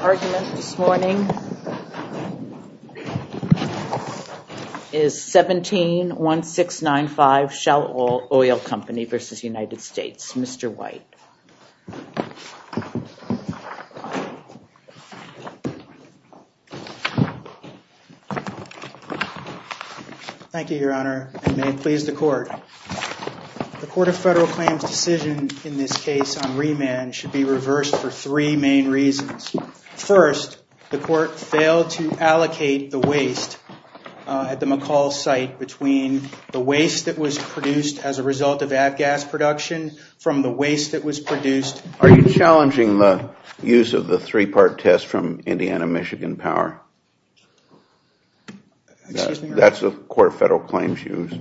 Argument this morning is 17-1695 Shell Oil Company v. United States. Mr. White. Thank you, Your Honor, and may it please the Court. The Court of Federal Claims' decision in this case on remand should be reversed for three main reasons. First, the Court failed to allocate the waste at the McCall site between the waste that was produced as a result of ad gas production from the waste that was produced. Are you challenging the use of the three-part test from Indiana-Michigan Power? That's the Court of Federal Claims' use.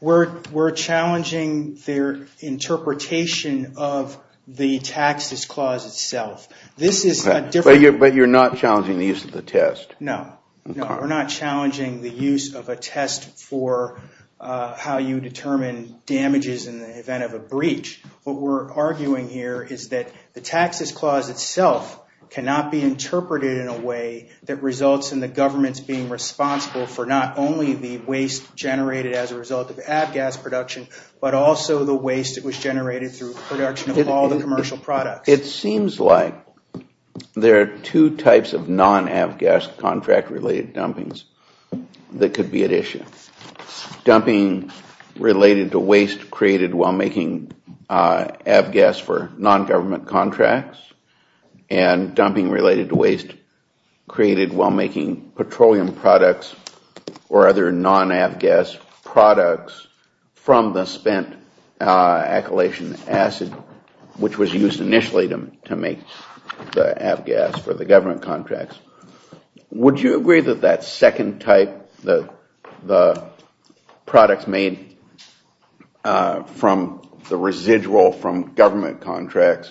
We're challenging their interpretation of the taxes clause itself. But you're not challenging the use of the test? No, we're not challenging the use of a test for how you determine damages in the event of a breach. What we're arguing here is that the taxes clause itself cannot be interpreted in a way that results in the governments being responsible for not only the waste generated as a result of ad gas production, but also the waste that was generated through production of all the commercial products. It seems like there are two types of non-ad gas contract-related dumpings that could be at issue. Dumping related to waste created while making ad gas for non-government contracts and dumping related to waste created while making petroleum products or other non-ad gas products from the spent acylation acid which was used initially to make the ad gas for the government contracts. Would you agree that that second type, the products made from the residual from government contracts,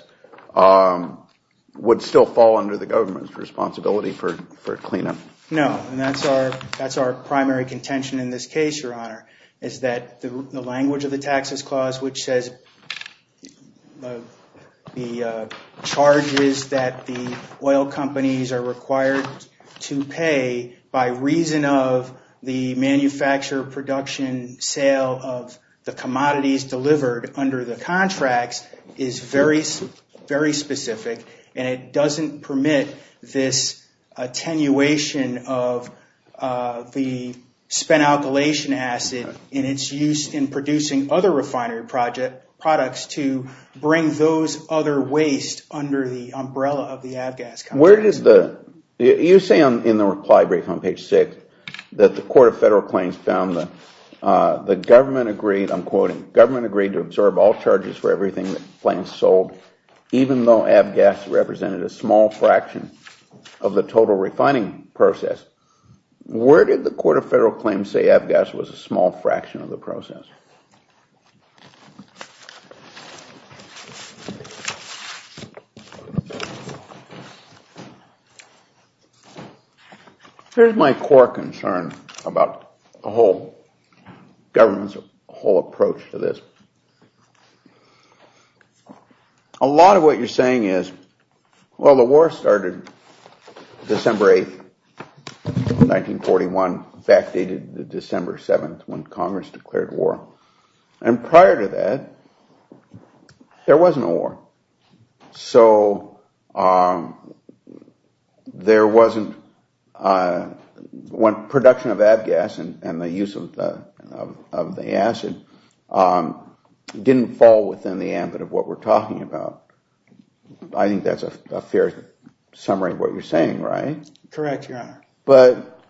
would still fall under the government's responsibility for cleanup? No, and that's our that's our primary contention in this case, your honor, is that the language of the taxes clause which says the charges that the oil companies are required to pay by reason of the manufacturer production sale of the commodities delivered under the contracts is very specific and it doesn't permit this attenuation of the spent alkylation acid in its use in producing other refinery products to bring those other wastes under the umbrella of the ad gas. Where does the, you say in the reply brief on page six that the court of federal claims found the government agreed, I'm quoting, government agreed to absorb all charges for everything plans sold even though ad gas represented a small fraction of the total refining process. Where did the court of federal claims say ad gas was a small fraction of the process? Here's my core concern about the whole government's whole approach to this. A lot of what you're saying is, well, the war started December 8th, 1941, in fact, they did the December 7th when Congress declared war, and prior to that there was no war. So there wasn't, production of ad gas and the use of the acid didn't fall within the ambit of what we're talking about. I think that's a fair summary of what you're saying, right? Correct, your honor. But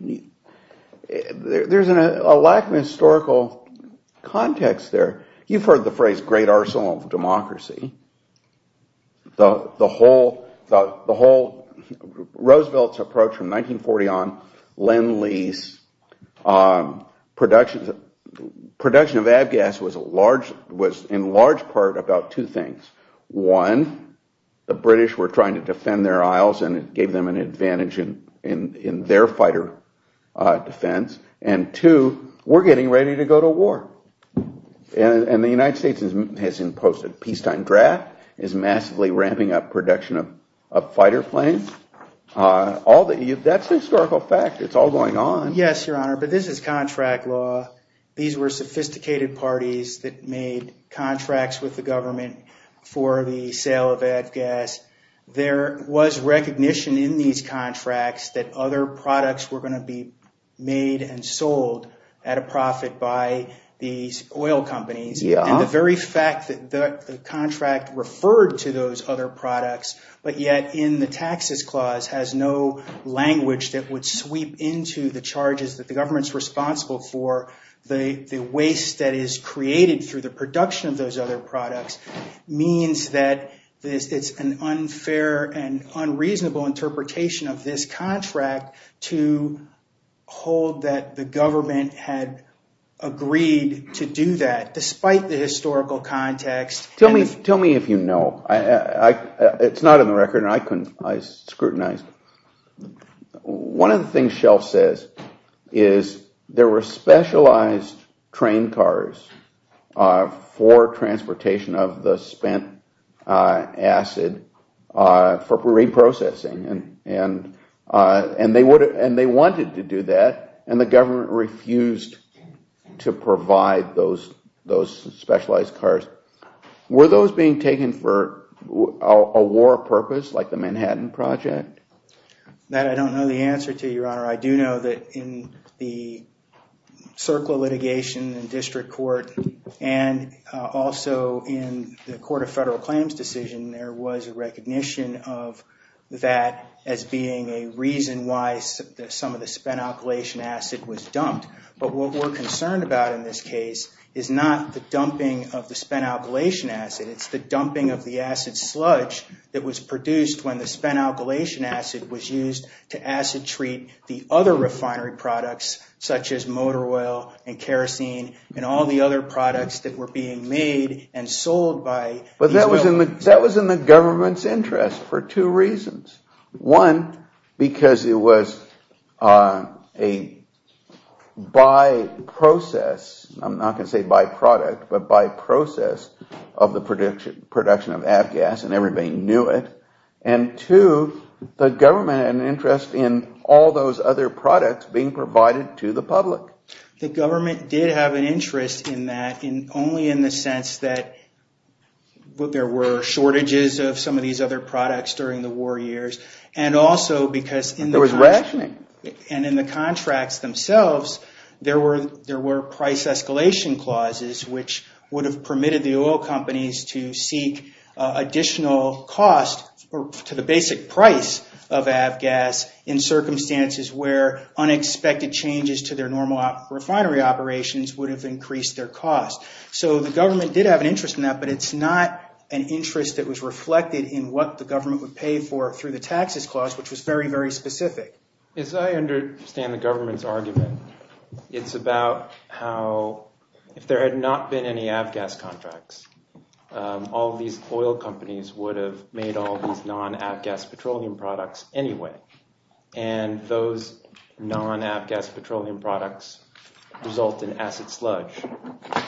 there's a lack of historical context there. You've heard the phrase great arsenal of democracy. The whole, Roosevelt's approach from 1940 on, Len Lee's, production of ad gas was in large part about two things. One, the British were trying to defend their isles and it gave them an advantage in their fighter defense, and two, we're getting ready to go to war. And the United States has posted a peacetime draft, is massively ramping up production of fighter planes. That's a historical fact, it's all going on. Yes, your honor, but this is contract law. These were sophisticated parties that made contracts with the government for the sale of ad gas. There was recognition in these contracts that other products were going to be made and sold at a profit by these oil companies, and the very fact that the contract referred to those other products, but yet in the taxes clause has no language that would sweep into the charges that the government's responsible for. The waste that is created through the production of those other products means that it's an unfair and unreasonable interpretation of this contract to hold that the government had agreed to do that despite the historical context. Tell me if you know, it's not in the record and I scrutinized. One of the things Shelf says is there were specialized train cars for transportation of the spent acid for reprocessing and they wanted to do that and the government refused to provide those specialized cars. Were those being taken for a war purpose like the Manhattan Project? That I don't know the answer to, your honor. I do know that in the circle litigation in district court and also in the court of federal claims decision there was a recognition of that as being a reason why some of the spent alkylation acid was dumped, but what we're concerned about in this case is not the dumping of the spent alkylation acid, it's the dumping of the acid sludge that was produced when the spent alkylation acid was used to acid treat the other refinery products such as motor oil and kerosene and all the other products that were being made and sold by... But that was in the government's interest for two reasons. One, because it was a by process, I'm not going to say by product, but by process of the production of avgas and everybody knew it, and two, the government had an interest in all those other products being provided to the public. The government did have an interest in that only in the sense that there were shortages of some of these other products during the war years and also because... There was rationing. And in the contracts themselves there were price escalation clauses which would have permitted the oil companies to seek additional cost to the basic price of avgas in circumstances where unexpected changes to their normal refinery operations would have increased their cost. So the government did have an interest in that, but it's not an interest that was reflected in what the government would pay for through the taxes clause, which was very, very specific. As I understand the government's argument, it's about how if there had not been any avgas contracts, all these oil companies would have made all these non-avgas petroleum products anyway, and those non-avgas petroleum products result in asset sludge.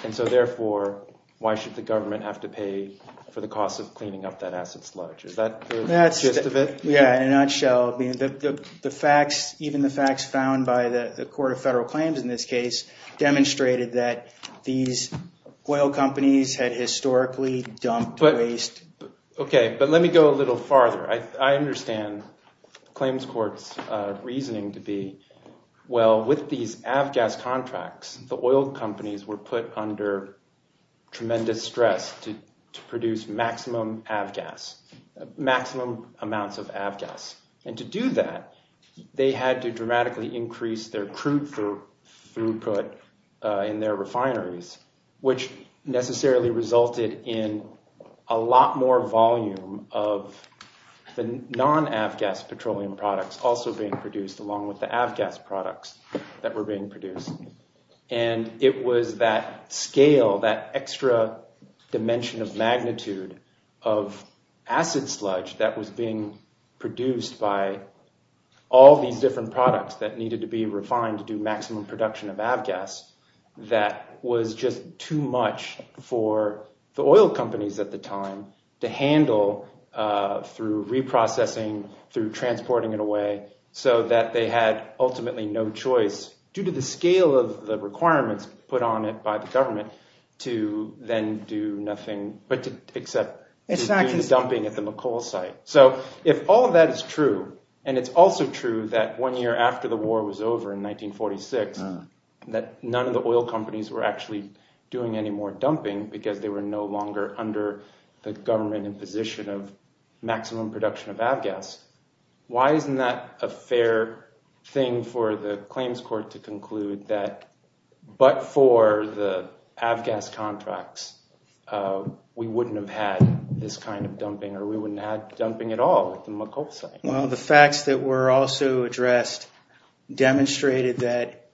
And so therefore, why should the government have to pay for the cost of cleaning up that asset sludge? Is that the gist of it? Yeah, in a nutshell. Even the facts found by the Court of Federal Claims in this case demonstrated that these oil companies had historically dumped waste... Okay, but let me go a little farther. I understand the Claims Court's reasoning to be, well, with these avgas contracts, the oil companies were put under tremendous stress to produce maximum avgas, and to do that, they had to dramatically increase their crude throughput in their refineries, which necessarily resulted in a lot more volume of the non-avgas petroleum products also being produced along with the avgas products that were being produced. And it was that scale, that extra dimension of magnitude of asset sludge that was being produced by all these different products that needed to be refined to do maximum production of avgas, that was just too much for the oil companies at the time to handle through reprocessing, through transporting it away, so that they had ultimately no choice, due to the scale of the requirements put on it by the government, to then do nothing but to accept dumping at the McColl site. So if all of that is true, and it's also true that one year after the war was over in 1946, that none of the oil companies were actually doing any more dumping because they were no longer under the government imposition of maximum production of avgas, why isn't that a fair thing for the Claims Court to conclude that, but for the avgas contracts, we wouldn't have had this kind of dumping or we wouldn't have dumping at all at the McColl site? Well, the facts that were also addressed demonstrated that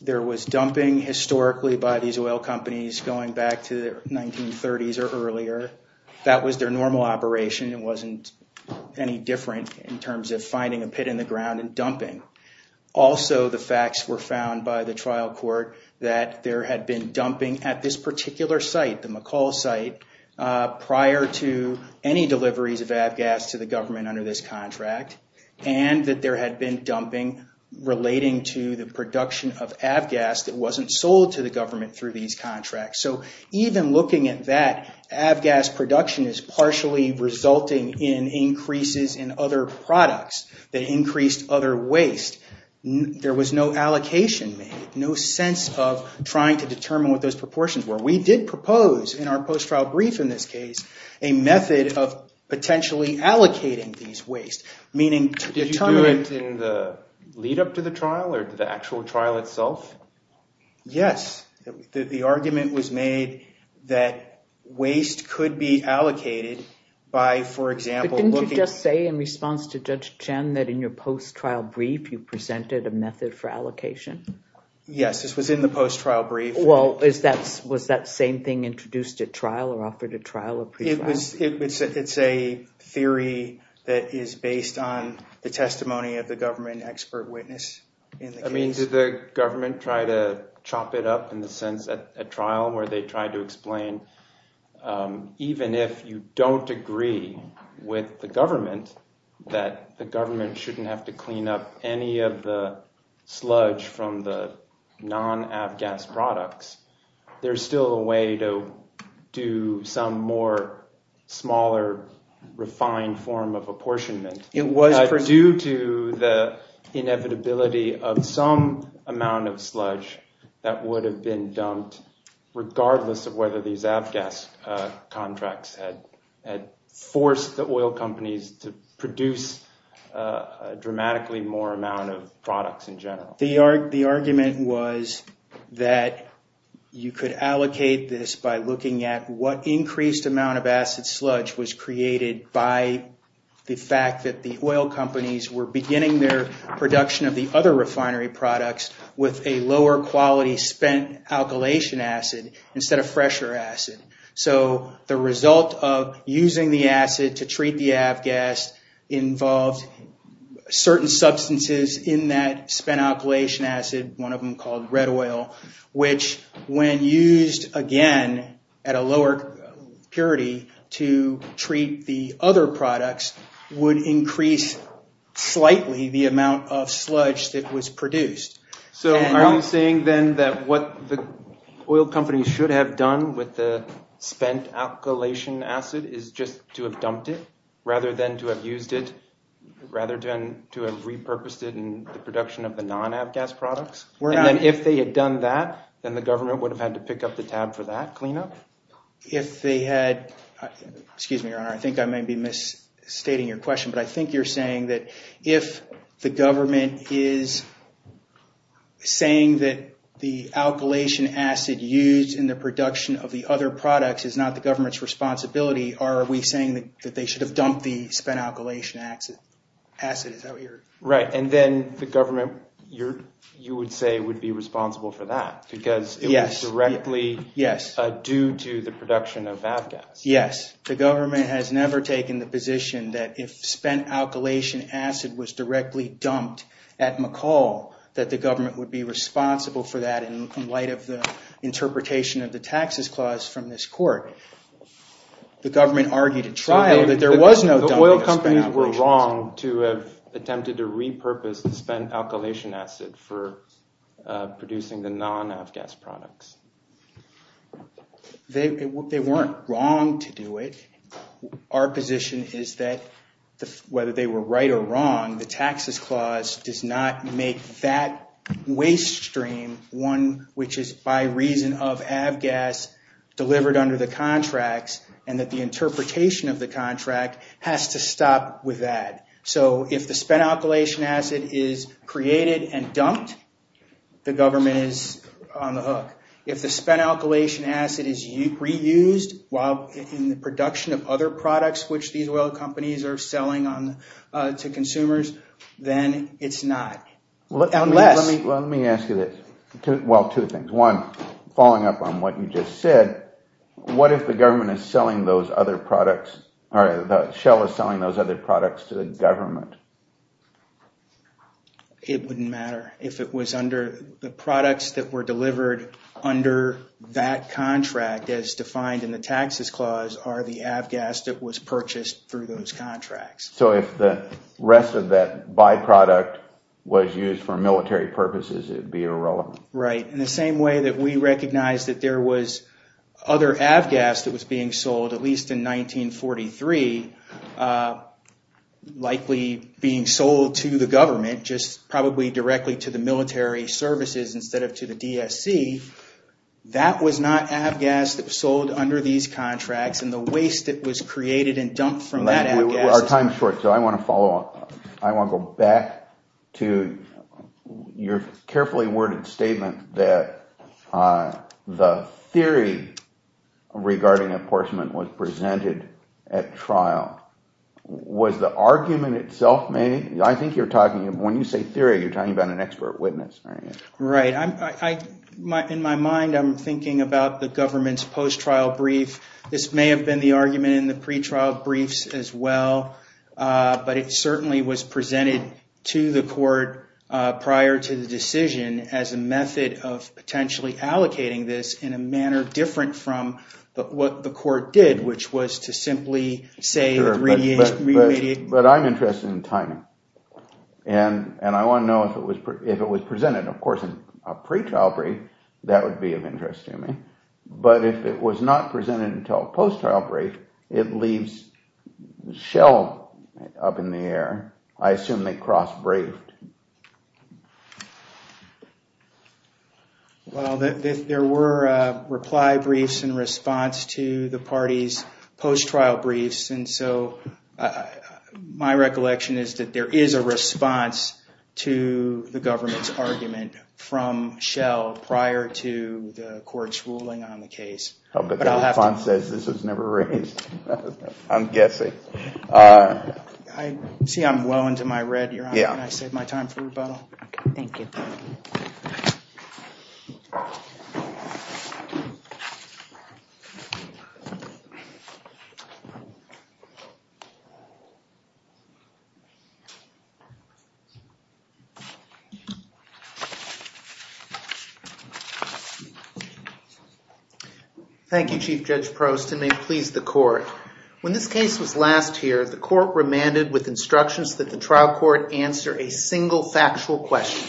there was dumping historically by these oil companies going back to the 1930s or earlier. That was their normal operation, it wasn't any different in terms of finding a pit in the ground and dumping. Also, the facts were found by the Trial Court that there had been dumping at this particular site, the McColl site, prior to any deliveries of avgas to the government under this contract, and that there had been dumping relating to the production of avgas that wasn't sold to the government through these contracts. So even looking at that, avgas production is partially resulting in increases in other products that increased other waste. There was no allocation made, no sense of trying to determine what those proportions were. We did propose, in our post-trial brief in this case, a method of potentially allocating these wastes. Did you do it in the lead-up to the trial or the actual trial itself? Yes, the argument was made that waste could be allocated by, for example... But didn't you just say in response to Judge Chen that in your post-trial brief, you presented a method for allocation? Yes, this was in the post-trial brief. Well, was that same thing introduced at trial or offered at trial or pre-trial? It's a theory that is based on the testimony of the government expert witness in the case. I mean, did the government try to chop it up in the sense at trial where they tried to explain, even if you don't agree with the government, that the government shouldn't have to clean up any of the sludge from the non-AVGAS products, there's still a way to do some more smaller, refined form of apportionment. It was produced... Due to the inevitability of some amount of sludge that would have been dumped, regardless of whether these AVGAS contracts had forced the oil companies to produce a dramatically more amount of products in general. The argument was that you could allocate this by looking at what increased amount of acid sludge was created by the fact that the oil companies were beginning their production of the other refinery products with a lower quality spent alkylation acid instead of fresher acid. The result of using the acid to treat the AVGAS involved certain substances in that spent alkylation acid, one of them called red oil, which when used again at a lower purity to treat the other products would increase slightly the amount of sludge that was produced. So are you saying then that what the oil companies should have done with the spent alkylation acid is just to have dumped it rather than to have used it, rather than to have repurposed it in the production of the non-AVGAS products? And then if they had done that, then the government would have had to pick up the tab for that cleanup? If they had... Excuse me, your honor, I think I may be misstating your question, but I think you're saying that if the government is saying that the alkylation acid used in the production of the other products is not the government's responsibility, are we saying that they should have dumped the spent alkylation acid? Is that what you're... Right. And then the government, you would say, would be responsible for that because it was directly due to the production of AVGAS. Yes. The government has never taken the position that if spent alkylation acid was directly dumped at McCall that the government would be responsible for that in light of the interpretation of the taxes clause from this court. The government argued at trial that there was no dumping of spent alkylation acid. The oil companies were wrong to have attempted to repurpose the spent alkylation acid for producing the non-AVGAS products. They weren't wrong to do it. Our position is that whether they were right or wrong, the taxes clause does not make that waste stream one which is by reason of AVGAS delivered under the contracts and that the interpretation of the contract has to stop with that. So if the spent alkylation acid is created and dumped, the government is on the hook. If the spent alkylation acid is reused while in the production of other products which these oil companies are selling to consumers, then it's not. Let me ask you this. Well, two things. One, following up on what you just said, what if the government is selling those other products or the shell is selling those other products to the government? It wouldn't matter if it was under the products that were delivered under that contract as defined in the taxes clause or the AVGAS that was purchased through those contracts. So if the rest of that byproduct was used for military purposes, it would be irrelevant. Right. In the same way that we recognize that there was other AVGAS that was being sold at least in 1943, likely being sold to the government just probably directly to the military services instead of to the DSC, that was not AVGAS that was sold under these contracts and the waste that was created and dumped from that AVGAS. Our time is short, so I want to follow up. I want to go back to your carefully worded statement that the theory regarding apportionment was presented at trial. Was the argument itself made? I think you're talking, when you say theory, you're talking about an expert witness. Right. In my mind, I'm thinking about the government's post-trial brief. This may have been the argument in the pre-trial briefs as well, but it certainly was presented to the court prior to the decision as a method of potentially allocating this in a manner different from what the court did, which was to simply say... But I'm interested in timing and I want to know if it was presented, of course, in a pre-trial brief, that would be of interest, but if it was not presented until a post-trial brief, it leaves Shell up in the air. I assume they cross-briefed. Well, there were reply briefs in response to the party's post-trial briefs, and so my recollection is that there is a response to the government's argument from Shell prior to the court's ruling on the case. I see I'm well into my read. Thank you, Chief Judge Prost, and may it please the court. When this case was last here, the court remanded with instructions that the trial court answer a single factual question.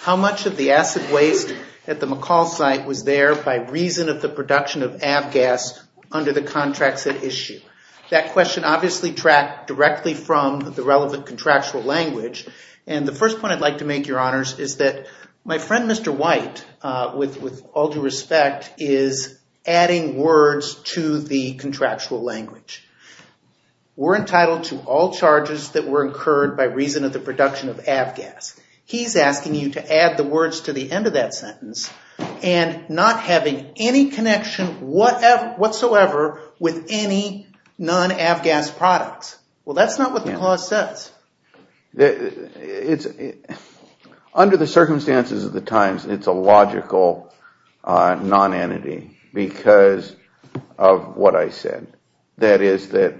How much of the acid waste at the McCall site was there by reason of the production of ABGAS under the contracts at issue? That question obviously tracked directly from the relevant contractual language, and the first point I'd like to make, Your Honors, is that my friend Mr. White with all due respect is adding words to the contractual language. We're entitled to all charges that were incurred by reason of the production of ABGAS. He's asking you to add the words to the end of that sentence and not having any connection whatsoever with any non-ABGAS products. Well, that's not what the clause says. It's under the circumstances of the times, it's a logical non-entity because of what I said. That is that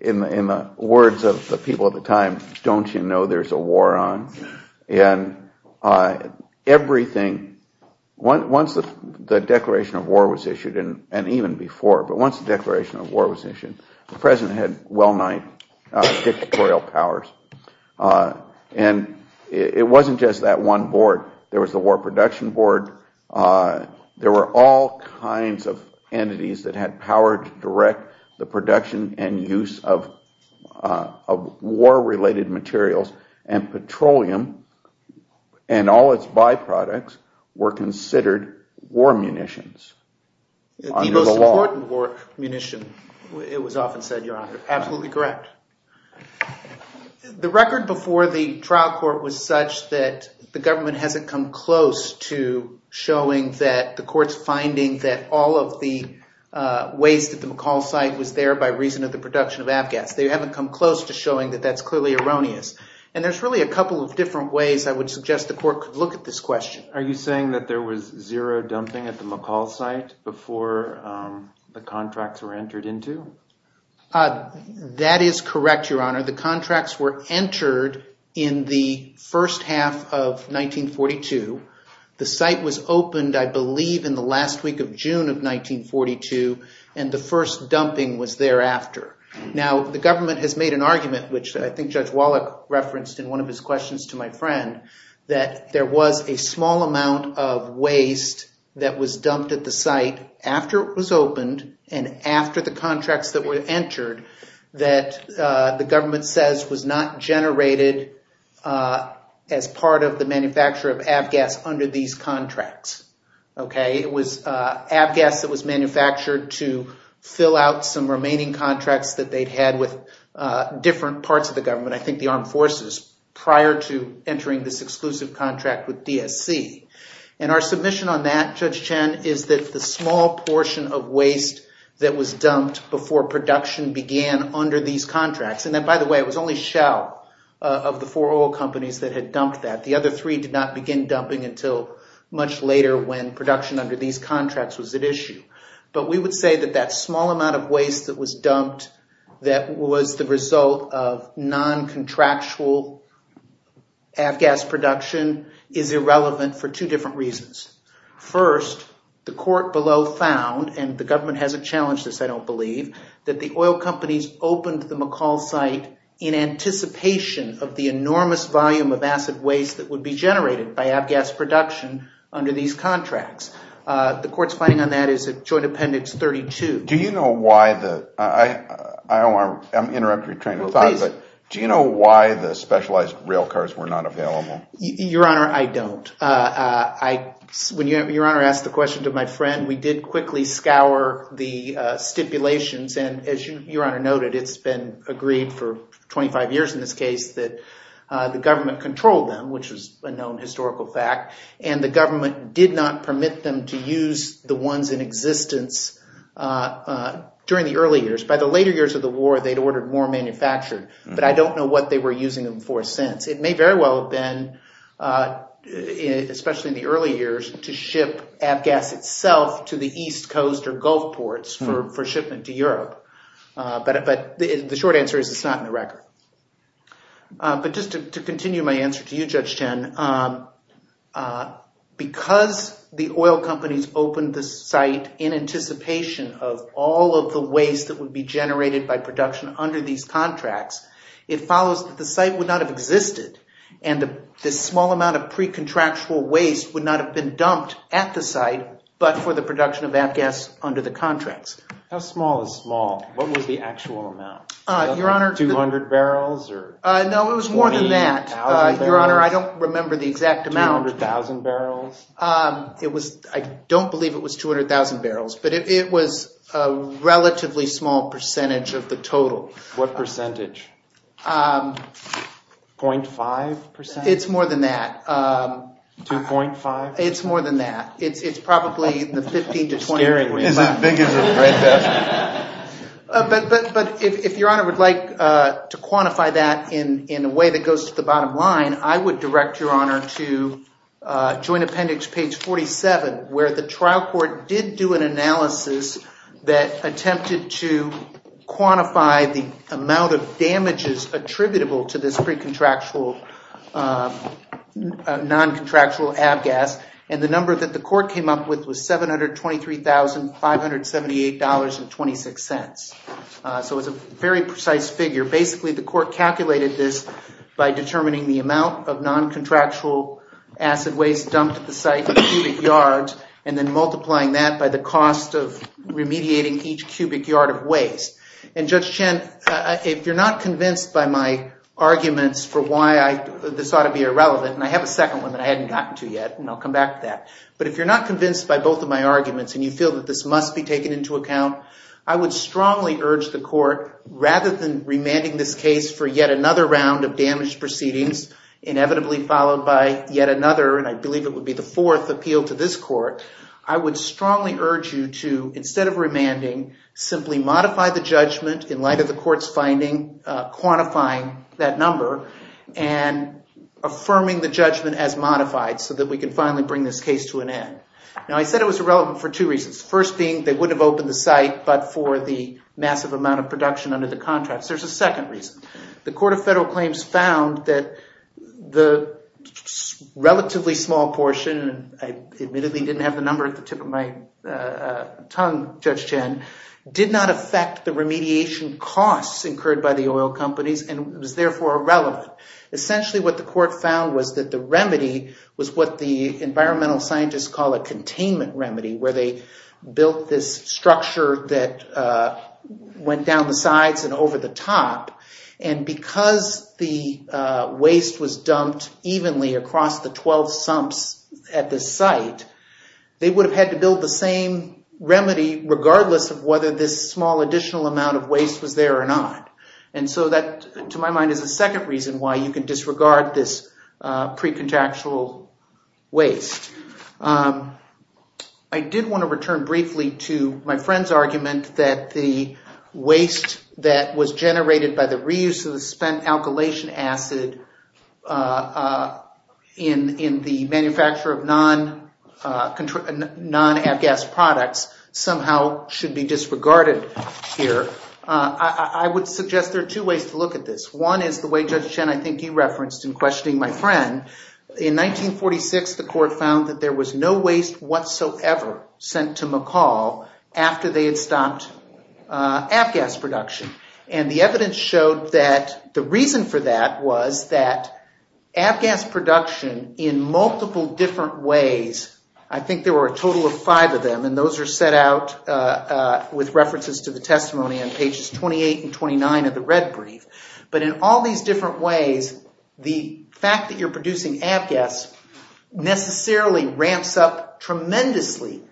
in the words of the people at the time, don't you know there's a war on? And everything, once the declaration of war was issued, and even before, but once the declaration of war was issued, the President had well-known dictatorial powers. And it wasn't just that one board. There was the War Production Board. There were all kinds of entities that had power to direct the production and use of war-related materials, and petroleum and all its byproducts were considered war munitions. The most important war munition, it was often said, Your Honor. Absolutely correct. The record before the trial court was such that the government hasn't come close to showing that the court's finding that all of the waste at the McCall site was there by reason of the production of ABGAS. They haven't come close to showing that that's clearly erroneous. And there's really a couple of different ways I would suggest the court could look at this question. Are you saying that there was zero dumping at the McCall site before the contracts were entered into? That is correct, Your Honor. The contracts were entered in the first half of 1942. The site was opened, I believe, in the last week of June of 1942, and the first dumping was thereafter. Now, the government has made an argument, which I think Judge Wallach referenced in one of his questions to my friend, that there was a small amount of waste that was dumped at the site after it was opened and after the contracts that were entered that the government says was not generated as part of the manufacture of ABGAS under these contracts. It was ABGAS that was manufactured to fill out some remaining contracts that they'd had with different parts of the government. I entering this exclusive contract with DSC. And our submission on that, Judge Chen, is that the small portion of waste that was dumped before production began under these contracts. And then, by the way, it was only Shell of the four oil companies that had dumped that. The other three did not begin dumping until much later when production under these contracts was at issue. But we would say that that small amount of waste that was dumped, that was the result of non-contractual ABGAS production, is irrelevant for two different reasons. First, the court below found, and the government hasn't challenged this, I don't believe, that the oil companies opened the McCall site in anticipation of the enormous volume of acid waste that would be generated by ABGAS production under these contracts. The court's finding on that is at Joint Appendix 32. Do you know why the... I'm interrupting your train of thought. Do you know why the specialized rail cars were not available? Your Honor, I don't. When Your Honor asked the question to my friend, we did quickly scour the stipulations. And as Your Honor noted, it's been agreed for 25 years in this case that the government controlled them, which is a known historical fact. And the government did not permit them to use the ones in existence during the early years. By the later years of the war, they'd ordered more manufactured, but I don't know what they were using them for since. It may very well have been, especially in the early years, to ship ABGAS itself to the East Coast or Gulf ports for shipment to Europe. But the short answer is it's not in the record. But just to continue my the site in anticipation of all of the waste that would be generated by production under these contracts, it follows that the site would not have existed. And the small amount of pre-contractual waste would not have been dumped at the site, but for the production of ABGAS under the contracts. How small is small? What was the actual amount? 200 barrels or... No, it was more than that. Your Honor, I don't remember the exact amount. 200,000 barrels? I don't believe it was 200,000 barrels, but it was a relatively small percentage of the total. What percentage? 0.5%? It's more than that. 2.5? It's more than that. It's probably in the 15 to 20... Scaring me. But if Your Honor would like to quantify that in a way that goes to the bottom line, I would direct Your Honor to joint appendix page 47, where the trial court did do an analysis that attempted to quantify the amount of damages attributable to this pre-contractual, non-contractual ABGAS. And the number that the court came up with was $723,578.26. So it's a very precise figure. Basically, the court calculated this by determining the amount of non-contractual acid waste dumped at the site per cubic yard, and then multiplying that by the cost of remediating each cubic yard of waste. And Judge Chen, if you're not convinced by my arguments for why this ought to be irrelevant, and I have a second one that I hadn't gotten to yet, and I'll come back to that. But if you're not convinced by both of my arguments and you feel that this must be taken into account, I would strongly urge the court, rather than remanding this case for yet another round of damaged proceedings, inevitably followed by yet another, and I believe it would be the fourth, appeal to this court, I would strongly urge you to, instead of remanding, simply modify the judgment in light of the court's finding, quantifying that number, and affirming the judgment as modified so that we can finally bring this case to an end. Now, I said it was irrelevant for two reasons. First being, they wouldn't have opened the site but for the massive amount of claims found that the relatively small portion, and I admittedly didn't have the number at the tip of my tongue, Judge Chen, did not affect the remediation costs incurred by the oil companies, and was therefore irrelevant. Essentially, what the court found was that the remedy was what the environmental scientists call a containment remedy, where they built this structure that went down the sides and over the top, and because the waste was dumped evenly across the 12 sumps at this site, they would have had to build the same remedy regardless of whether this small additional amount of waste was there or not. And so that, to my mind, is the second reason why you can disregard this pre-contactual waste. I did want to return briefly to my friend's argument that the waste that was generated by the reuse of the spent alkylation acid in the manufacture of non-ABGAS products somehow should be disregarded here. I would suggest there are two ways to look at this. One is the way, Judge Chen, I think you referenced in questioning my friend. In 1946, the court found that there was no waste whatsoever sent to McCall after they had stopped ABGAS production. And the evidence showed that the reason for that was that ABGAS production in multiple different ways, I think there were a total of five of them, and those are set out with references to the testimony on pages 28 and 29 of the red brief. But in all these different ways, the fact that you're producing ABGAS necessarily ramps up acid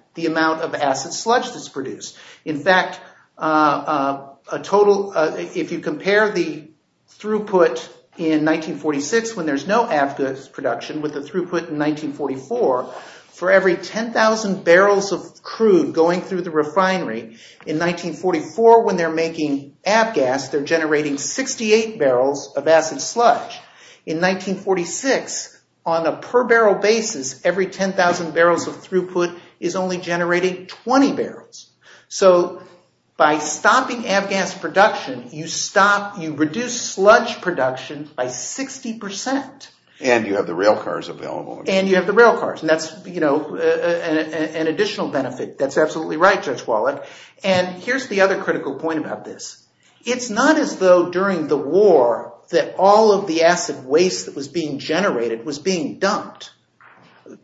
sludge that's produced. In fact, if you compare the throughput in 1946 when there's no ABGAS production with the throughput in 1944, for every 10,000 barrels of crude going through the refinery in 1944 when they're making ABGAS, they're generating 68 barrels of acid sludge. In 1946, on a per barrel basis, every 10,000 barrels of throughput is only generating 20 barrels. So by stopping ABGAS production, you reduce sludge production by 60%. And you have the railcars available. And you have the railcars, and that's an additional benefit. That's absolutely right, Judge Wallach. And here's the other critical point about this. It's not as though during the war that all of the acid waste that was being generated was being dumped.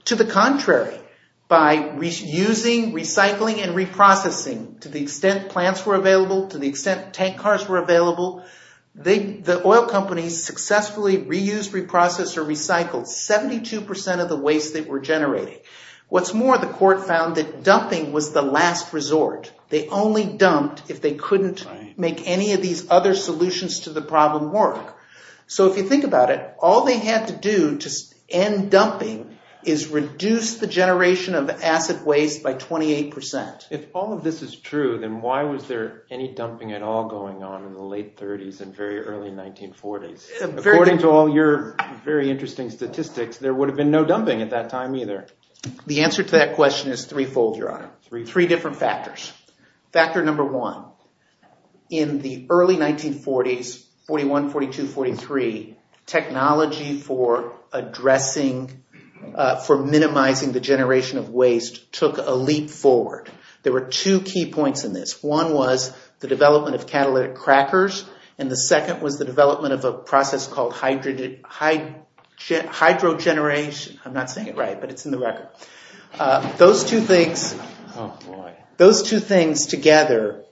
To the contrary, by reusing, recycling, and reprocessing to the extent plants were available, to the extent tank cars were available, the oil companies successfully reused, reprocessed, or recycled 72% of the waste that were generated. What's more, the court found that dumping was the last resort. They only dumped if they couldn't make any of these other solutions to the problem work. So if you think about it, all they had to do to end dumping is reduce the generation of acid waste by 28%. If all of this is true, then why was there any dumping at all going on in the late 30s and very early 1940s? According to all your very interesting statistics, there would have been no dumping at that time either. The answer to that question is threefold, three different factors. Factor number one, in the early 1940s, 41, 42, 43, technology for minimizing the generation of waste took a leap forward. There were two key points in this. One was the development of catalytic crackers, and the second was the development of a process called hydrogeneration. I'm not saying it right, but it's in the record. Those two things together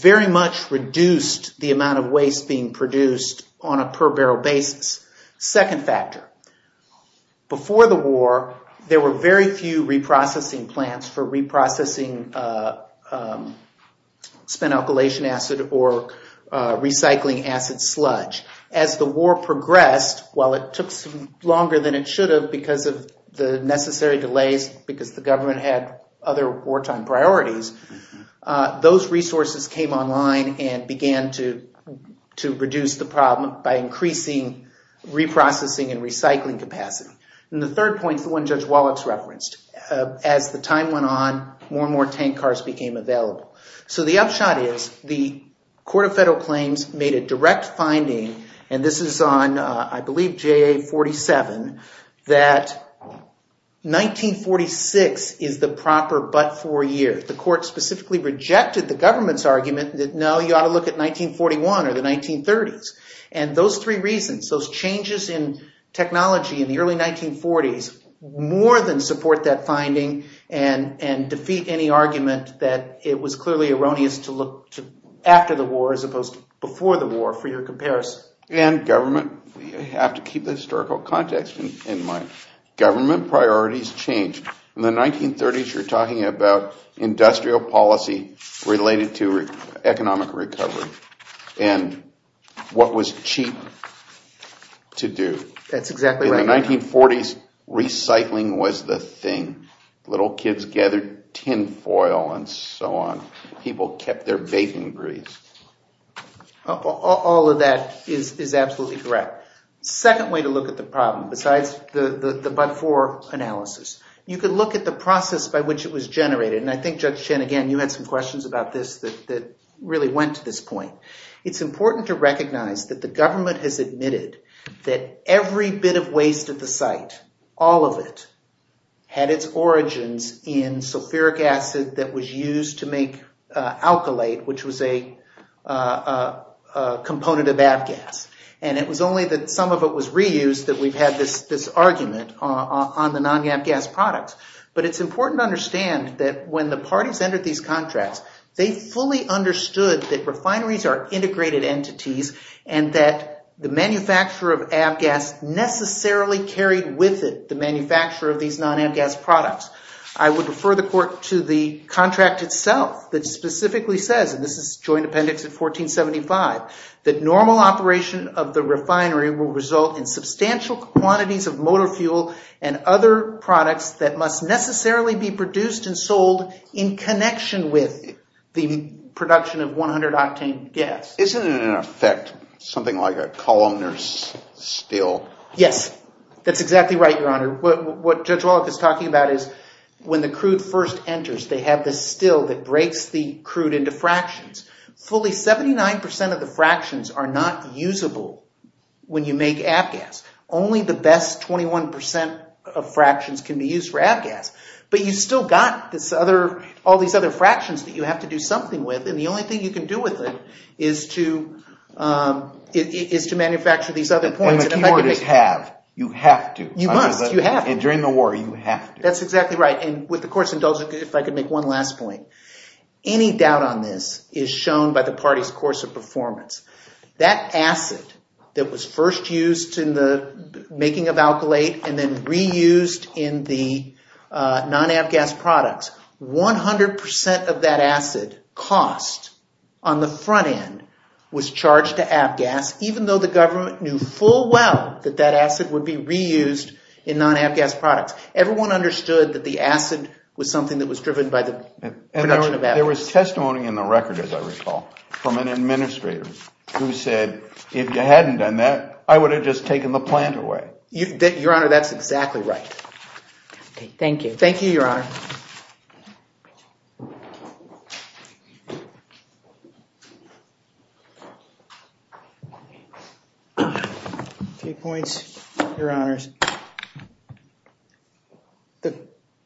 very much reduced the amount of waste being produced on a per barrel basis. Second factor, before the war, there were very few reprocessing plants for reprocessing spent alkylation acid or recycling acid sludge. As the war progressed, while it took longer than it should have because of the necessary delays, because the government had other wartime priorities, those resources came online and began to reduce the problem by increasing reprocessing and recycling capacity. The third point is the one Judge Wallach referenced. As the time went on, more and more tank cars became available. The upshot is the Court of Federal Claims made a direct finding, and this is on, I believe, JA 47, that 1946 is the proper but-for year. The court specifically rejected the government's argument that, no, you ought to look at 1941 or the 1930s. Those three reasons, those changes in technology in the early 1940s, more than support that finding and defeat any argument that it was clearly erroneous to look to after the war as opposed to before the war for your comparison. And government, you have to keep the historical context in mind. Government priorities change. In the 1930s, you're talking about industrial policy related to economic recovery and what was cheap to do. In the 1940s, recycling was the thing. Little kids gathered tin foil and so on. People kept their baking grease. All of that is absolutely correct. Second way to look at the problem, besides the but-for analysis, you could look at the process by which it was generated, and I think Judge Chen, again, you had some questions about this that really went to this point. It's important to recognize that the government has admitted that every bit of waste at the site, all of it, had its origins in sulfuric acid that was used to make alkylate, which was a component of ABGAS. And it was only that some of it was reused that we've had this argument on the non-ABGAS products. But it's important to understand that when the government fully understood that refineries are integrated entities, and that the manufacturer of ABGAS necessarily carried with it the manufacturer of these non-ABGAS products, I would refer the court to the contract itself that specifically says, and this is Joint Appendix of 1475, that normal operation of the refinery will result in substantial quantities of motor fuel and other products that must necessarily be produced and sold in connection with the production of 100-octane gas. Isn't it in effect something like a columnar still? Yes, that's exactly right, Your Honor. What Judge Walloff is talking about is when the crude first enters, they have this still that breaks the crude into fractions. Fully 79% of the fractions are not usable when you make ABGAS. Only the best 21% of fractions can be used for ABGAS. But you've still got all these other fractions that you have to do something with, and the only thing you can do with it is to manufacture these other points. And the keyboarders have. You have to. You must. You have to. And during the war, you have to. That's exactly right. And with the court's indulgence, if I could make one last point, any doubt on this is shown by the party's performance. That acid that was first used in the making of alkylate and then reused in the non-ABGAS products, 100% of that acid cost on the front end was charged to ABGAS, even though the government knew full well that that acid would be reused in non-ABGAS products. Everyone understood that the acid was something that was driven by the production of ABGAS. There was testimony in the record, as I recall, from an administrator who said, if you hadn't done that, I would have just taken the plant away. Your Honor, that's exactly right. Thank you. Thank you, Your Honor. Okay, points, Your Honors.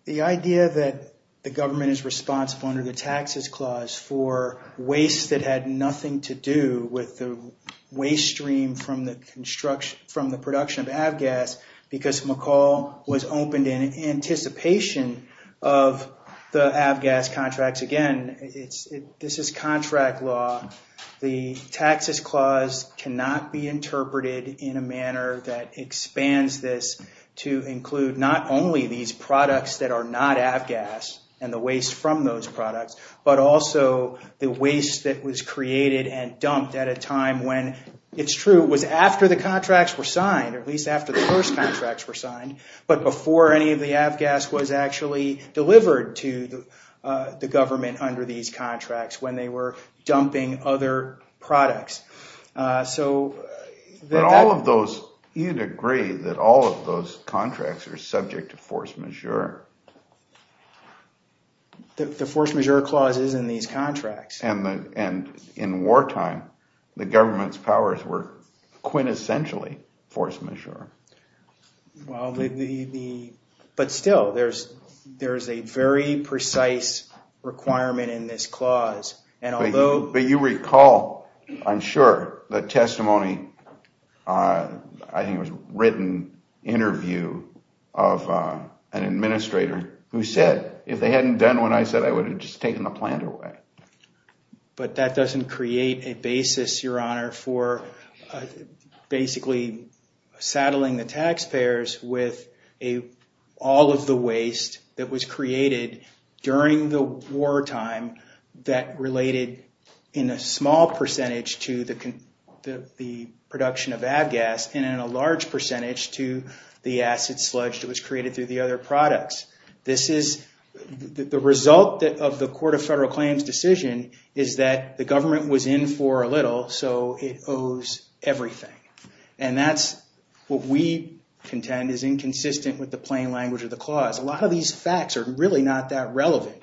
The idea that the government is responsible under the taxes clause for waste that had nothing to do with the waste stream from the production of ABGAS, because McCall was opened in anticipation of the ABGAS contracts. Again, this is contract law. The taxes clause cannot be interpreted in a manner that expands this to include not only these products that are not ABGAS and the waste from those products, but also the waste that was created and dumped at a time when, it's true, it was after the contracts were signed, at least after the first contracts were signed, but before any of the ABGAS was actually delivered to the government under these contracts when they were dumping other products. You'd agree that all of those contracts are subject to force majeure? The force majeure clause is in these contracts. And in wartime, the government's powers were quintessentially force majeure. But still, there's a very precise requirement in this clause. But you recall, I'm sure, the testimony, I think it was a written interview of an administrator who said, if they hadn't done what I said, I would have just taken the plant away. But that doesn't create a basis, Your Honor, for basically saddling the taxpayers with all of the waste that was created during the wartime that related in a small percentage to the production of ABGAS and in a large percentage to the acid sludge that was created through the other products. This is the result of the Court of Federal Claims decision is that the government was in for a little, so it owes everything. And that's what we contend is inconsistent with the plain language of the clause. A lot of these facts are really not that relevant.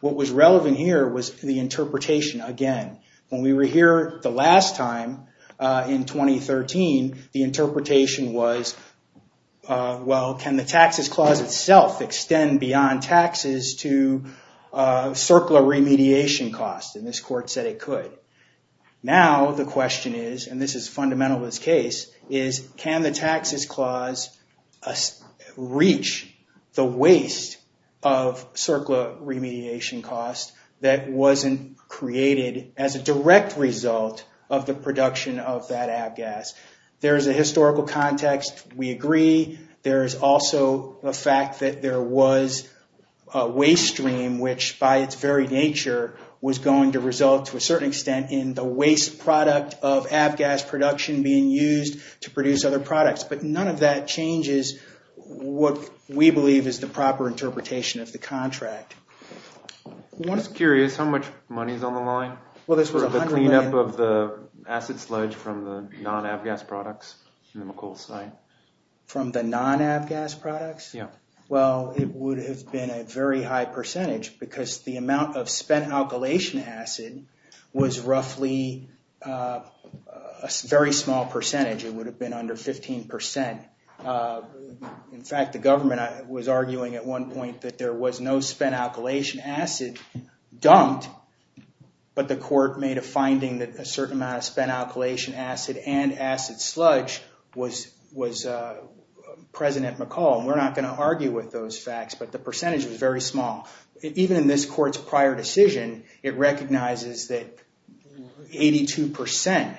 What was relevant here was the interpretation. Again, when we were here the last time in 2013, the interpretation was, well, can the taxes clause itself extend beyond taxes to circular remediation costs? And this court said it could. Now the question is, and this is fundamental to this case, is can the taxes clause reach the waste of circular remediation costs that wasn't created as a direct result of the production of that ABGAS? There's a historical context. We agree. There's also the fact that there was a waste stream, which by its very nature was going to result to a certain extent in the waste product of ABGAS production being used to produce other products. But none of that changes what we believe is the proper interpretation of the contract. I'm just curious how much money is on the line for the cleanup of the acid sludge from the non-ABGAS products in the McCall site? From the non-ABGAS products? Yeah. Well, it would have been a very high percentage because the amount of spent alkylation acid was roughly a very small percentage. It would have been under 15%. In fact, the government was arguing at one point that there was no spent alkylation acid dumped, but the court made a finding that a certain amount of spent alkylation acid and acid sludge was present at McCall. We're not going to argue with those facts, but the percentage was very small. Even in this court's prior decision, it recognizes that 82%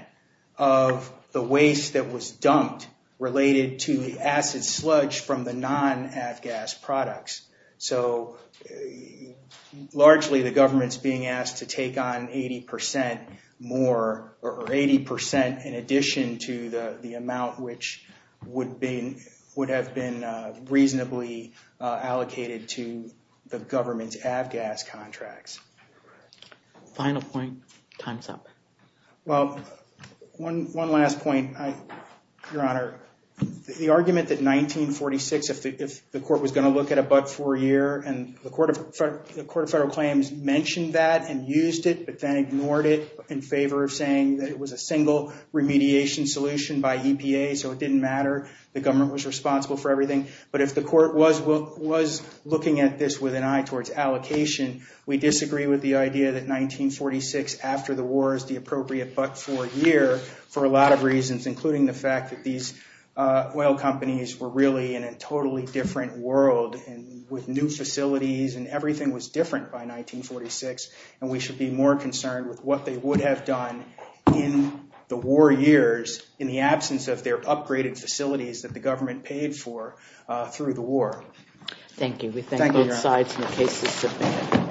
of the waste that was dumped related to the acid sludge from the non-ABGAS products. Largely, the government's being asked to take on 80% in addition to the amount which would have been reasonably allocated to the government's ABGAS contracts. Final point, time's up. Well, one last point, Your Honor. The argument that 1946, if the court was going to look at a buck for a year, and the Court of Federal Claims mentioned that and used it, but then ignored it in favor of saying that it was a single remediation solution by EPA, so it didn't matter. The government was responsible for everything. But if the court was looking at this with an eye towards allocation, we disagree with the idea that 1946 after the war is the appropriate buck for a year for a lot of reasons, including the fact that these oil companies were really in a totally different world and with new facilities and everything was different by 1946, and we should be more concerned with what they would have done in the war years in the absence of their upgraded facilities that the government paid for through the war. Thank you. We thank both sides in the case.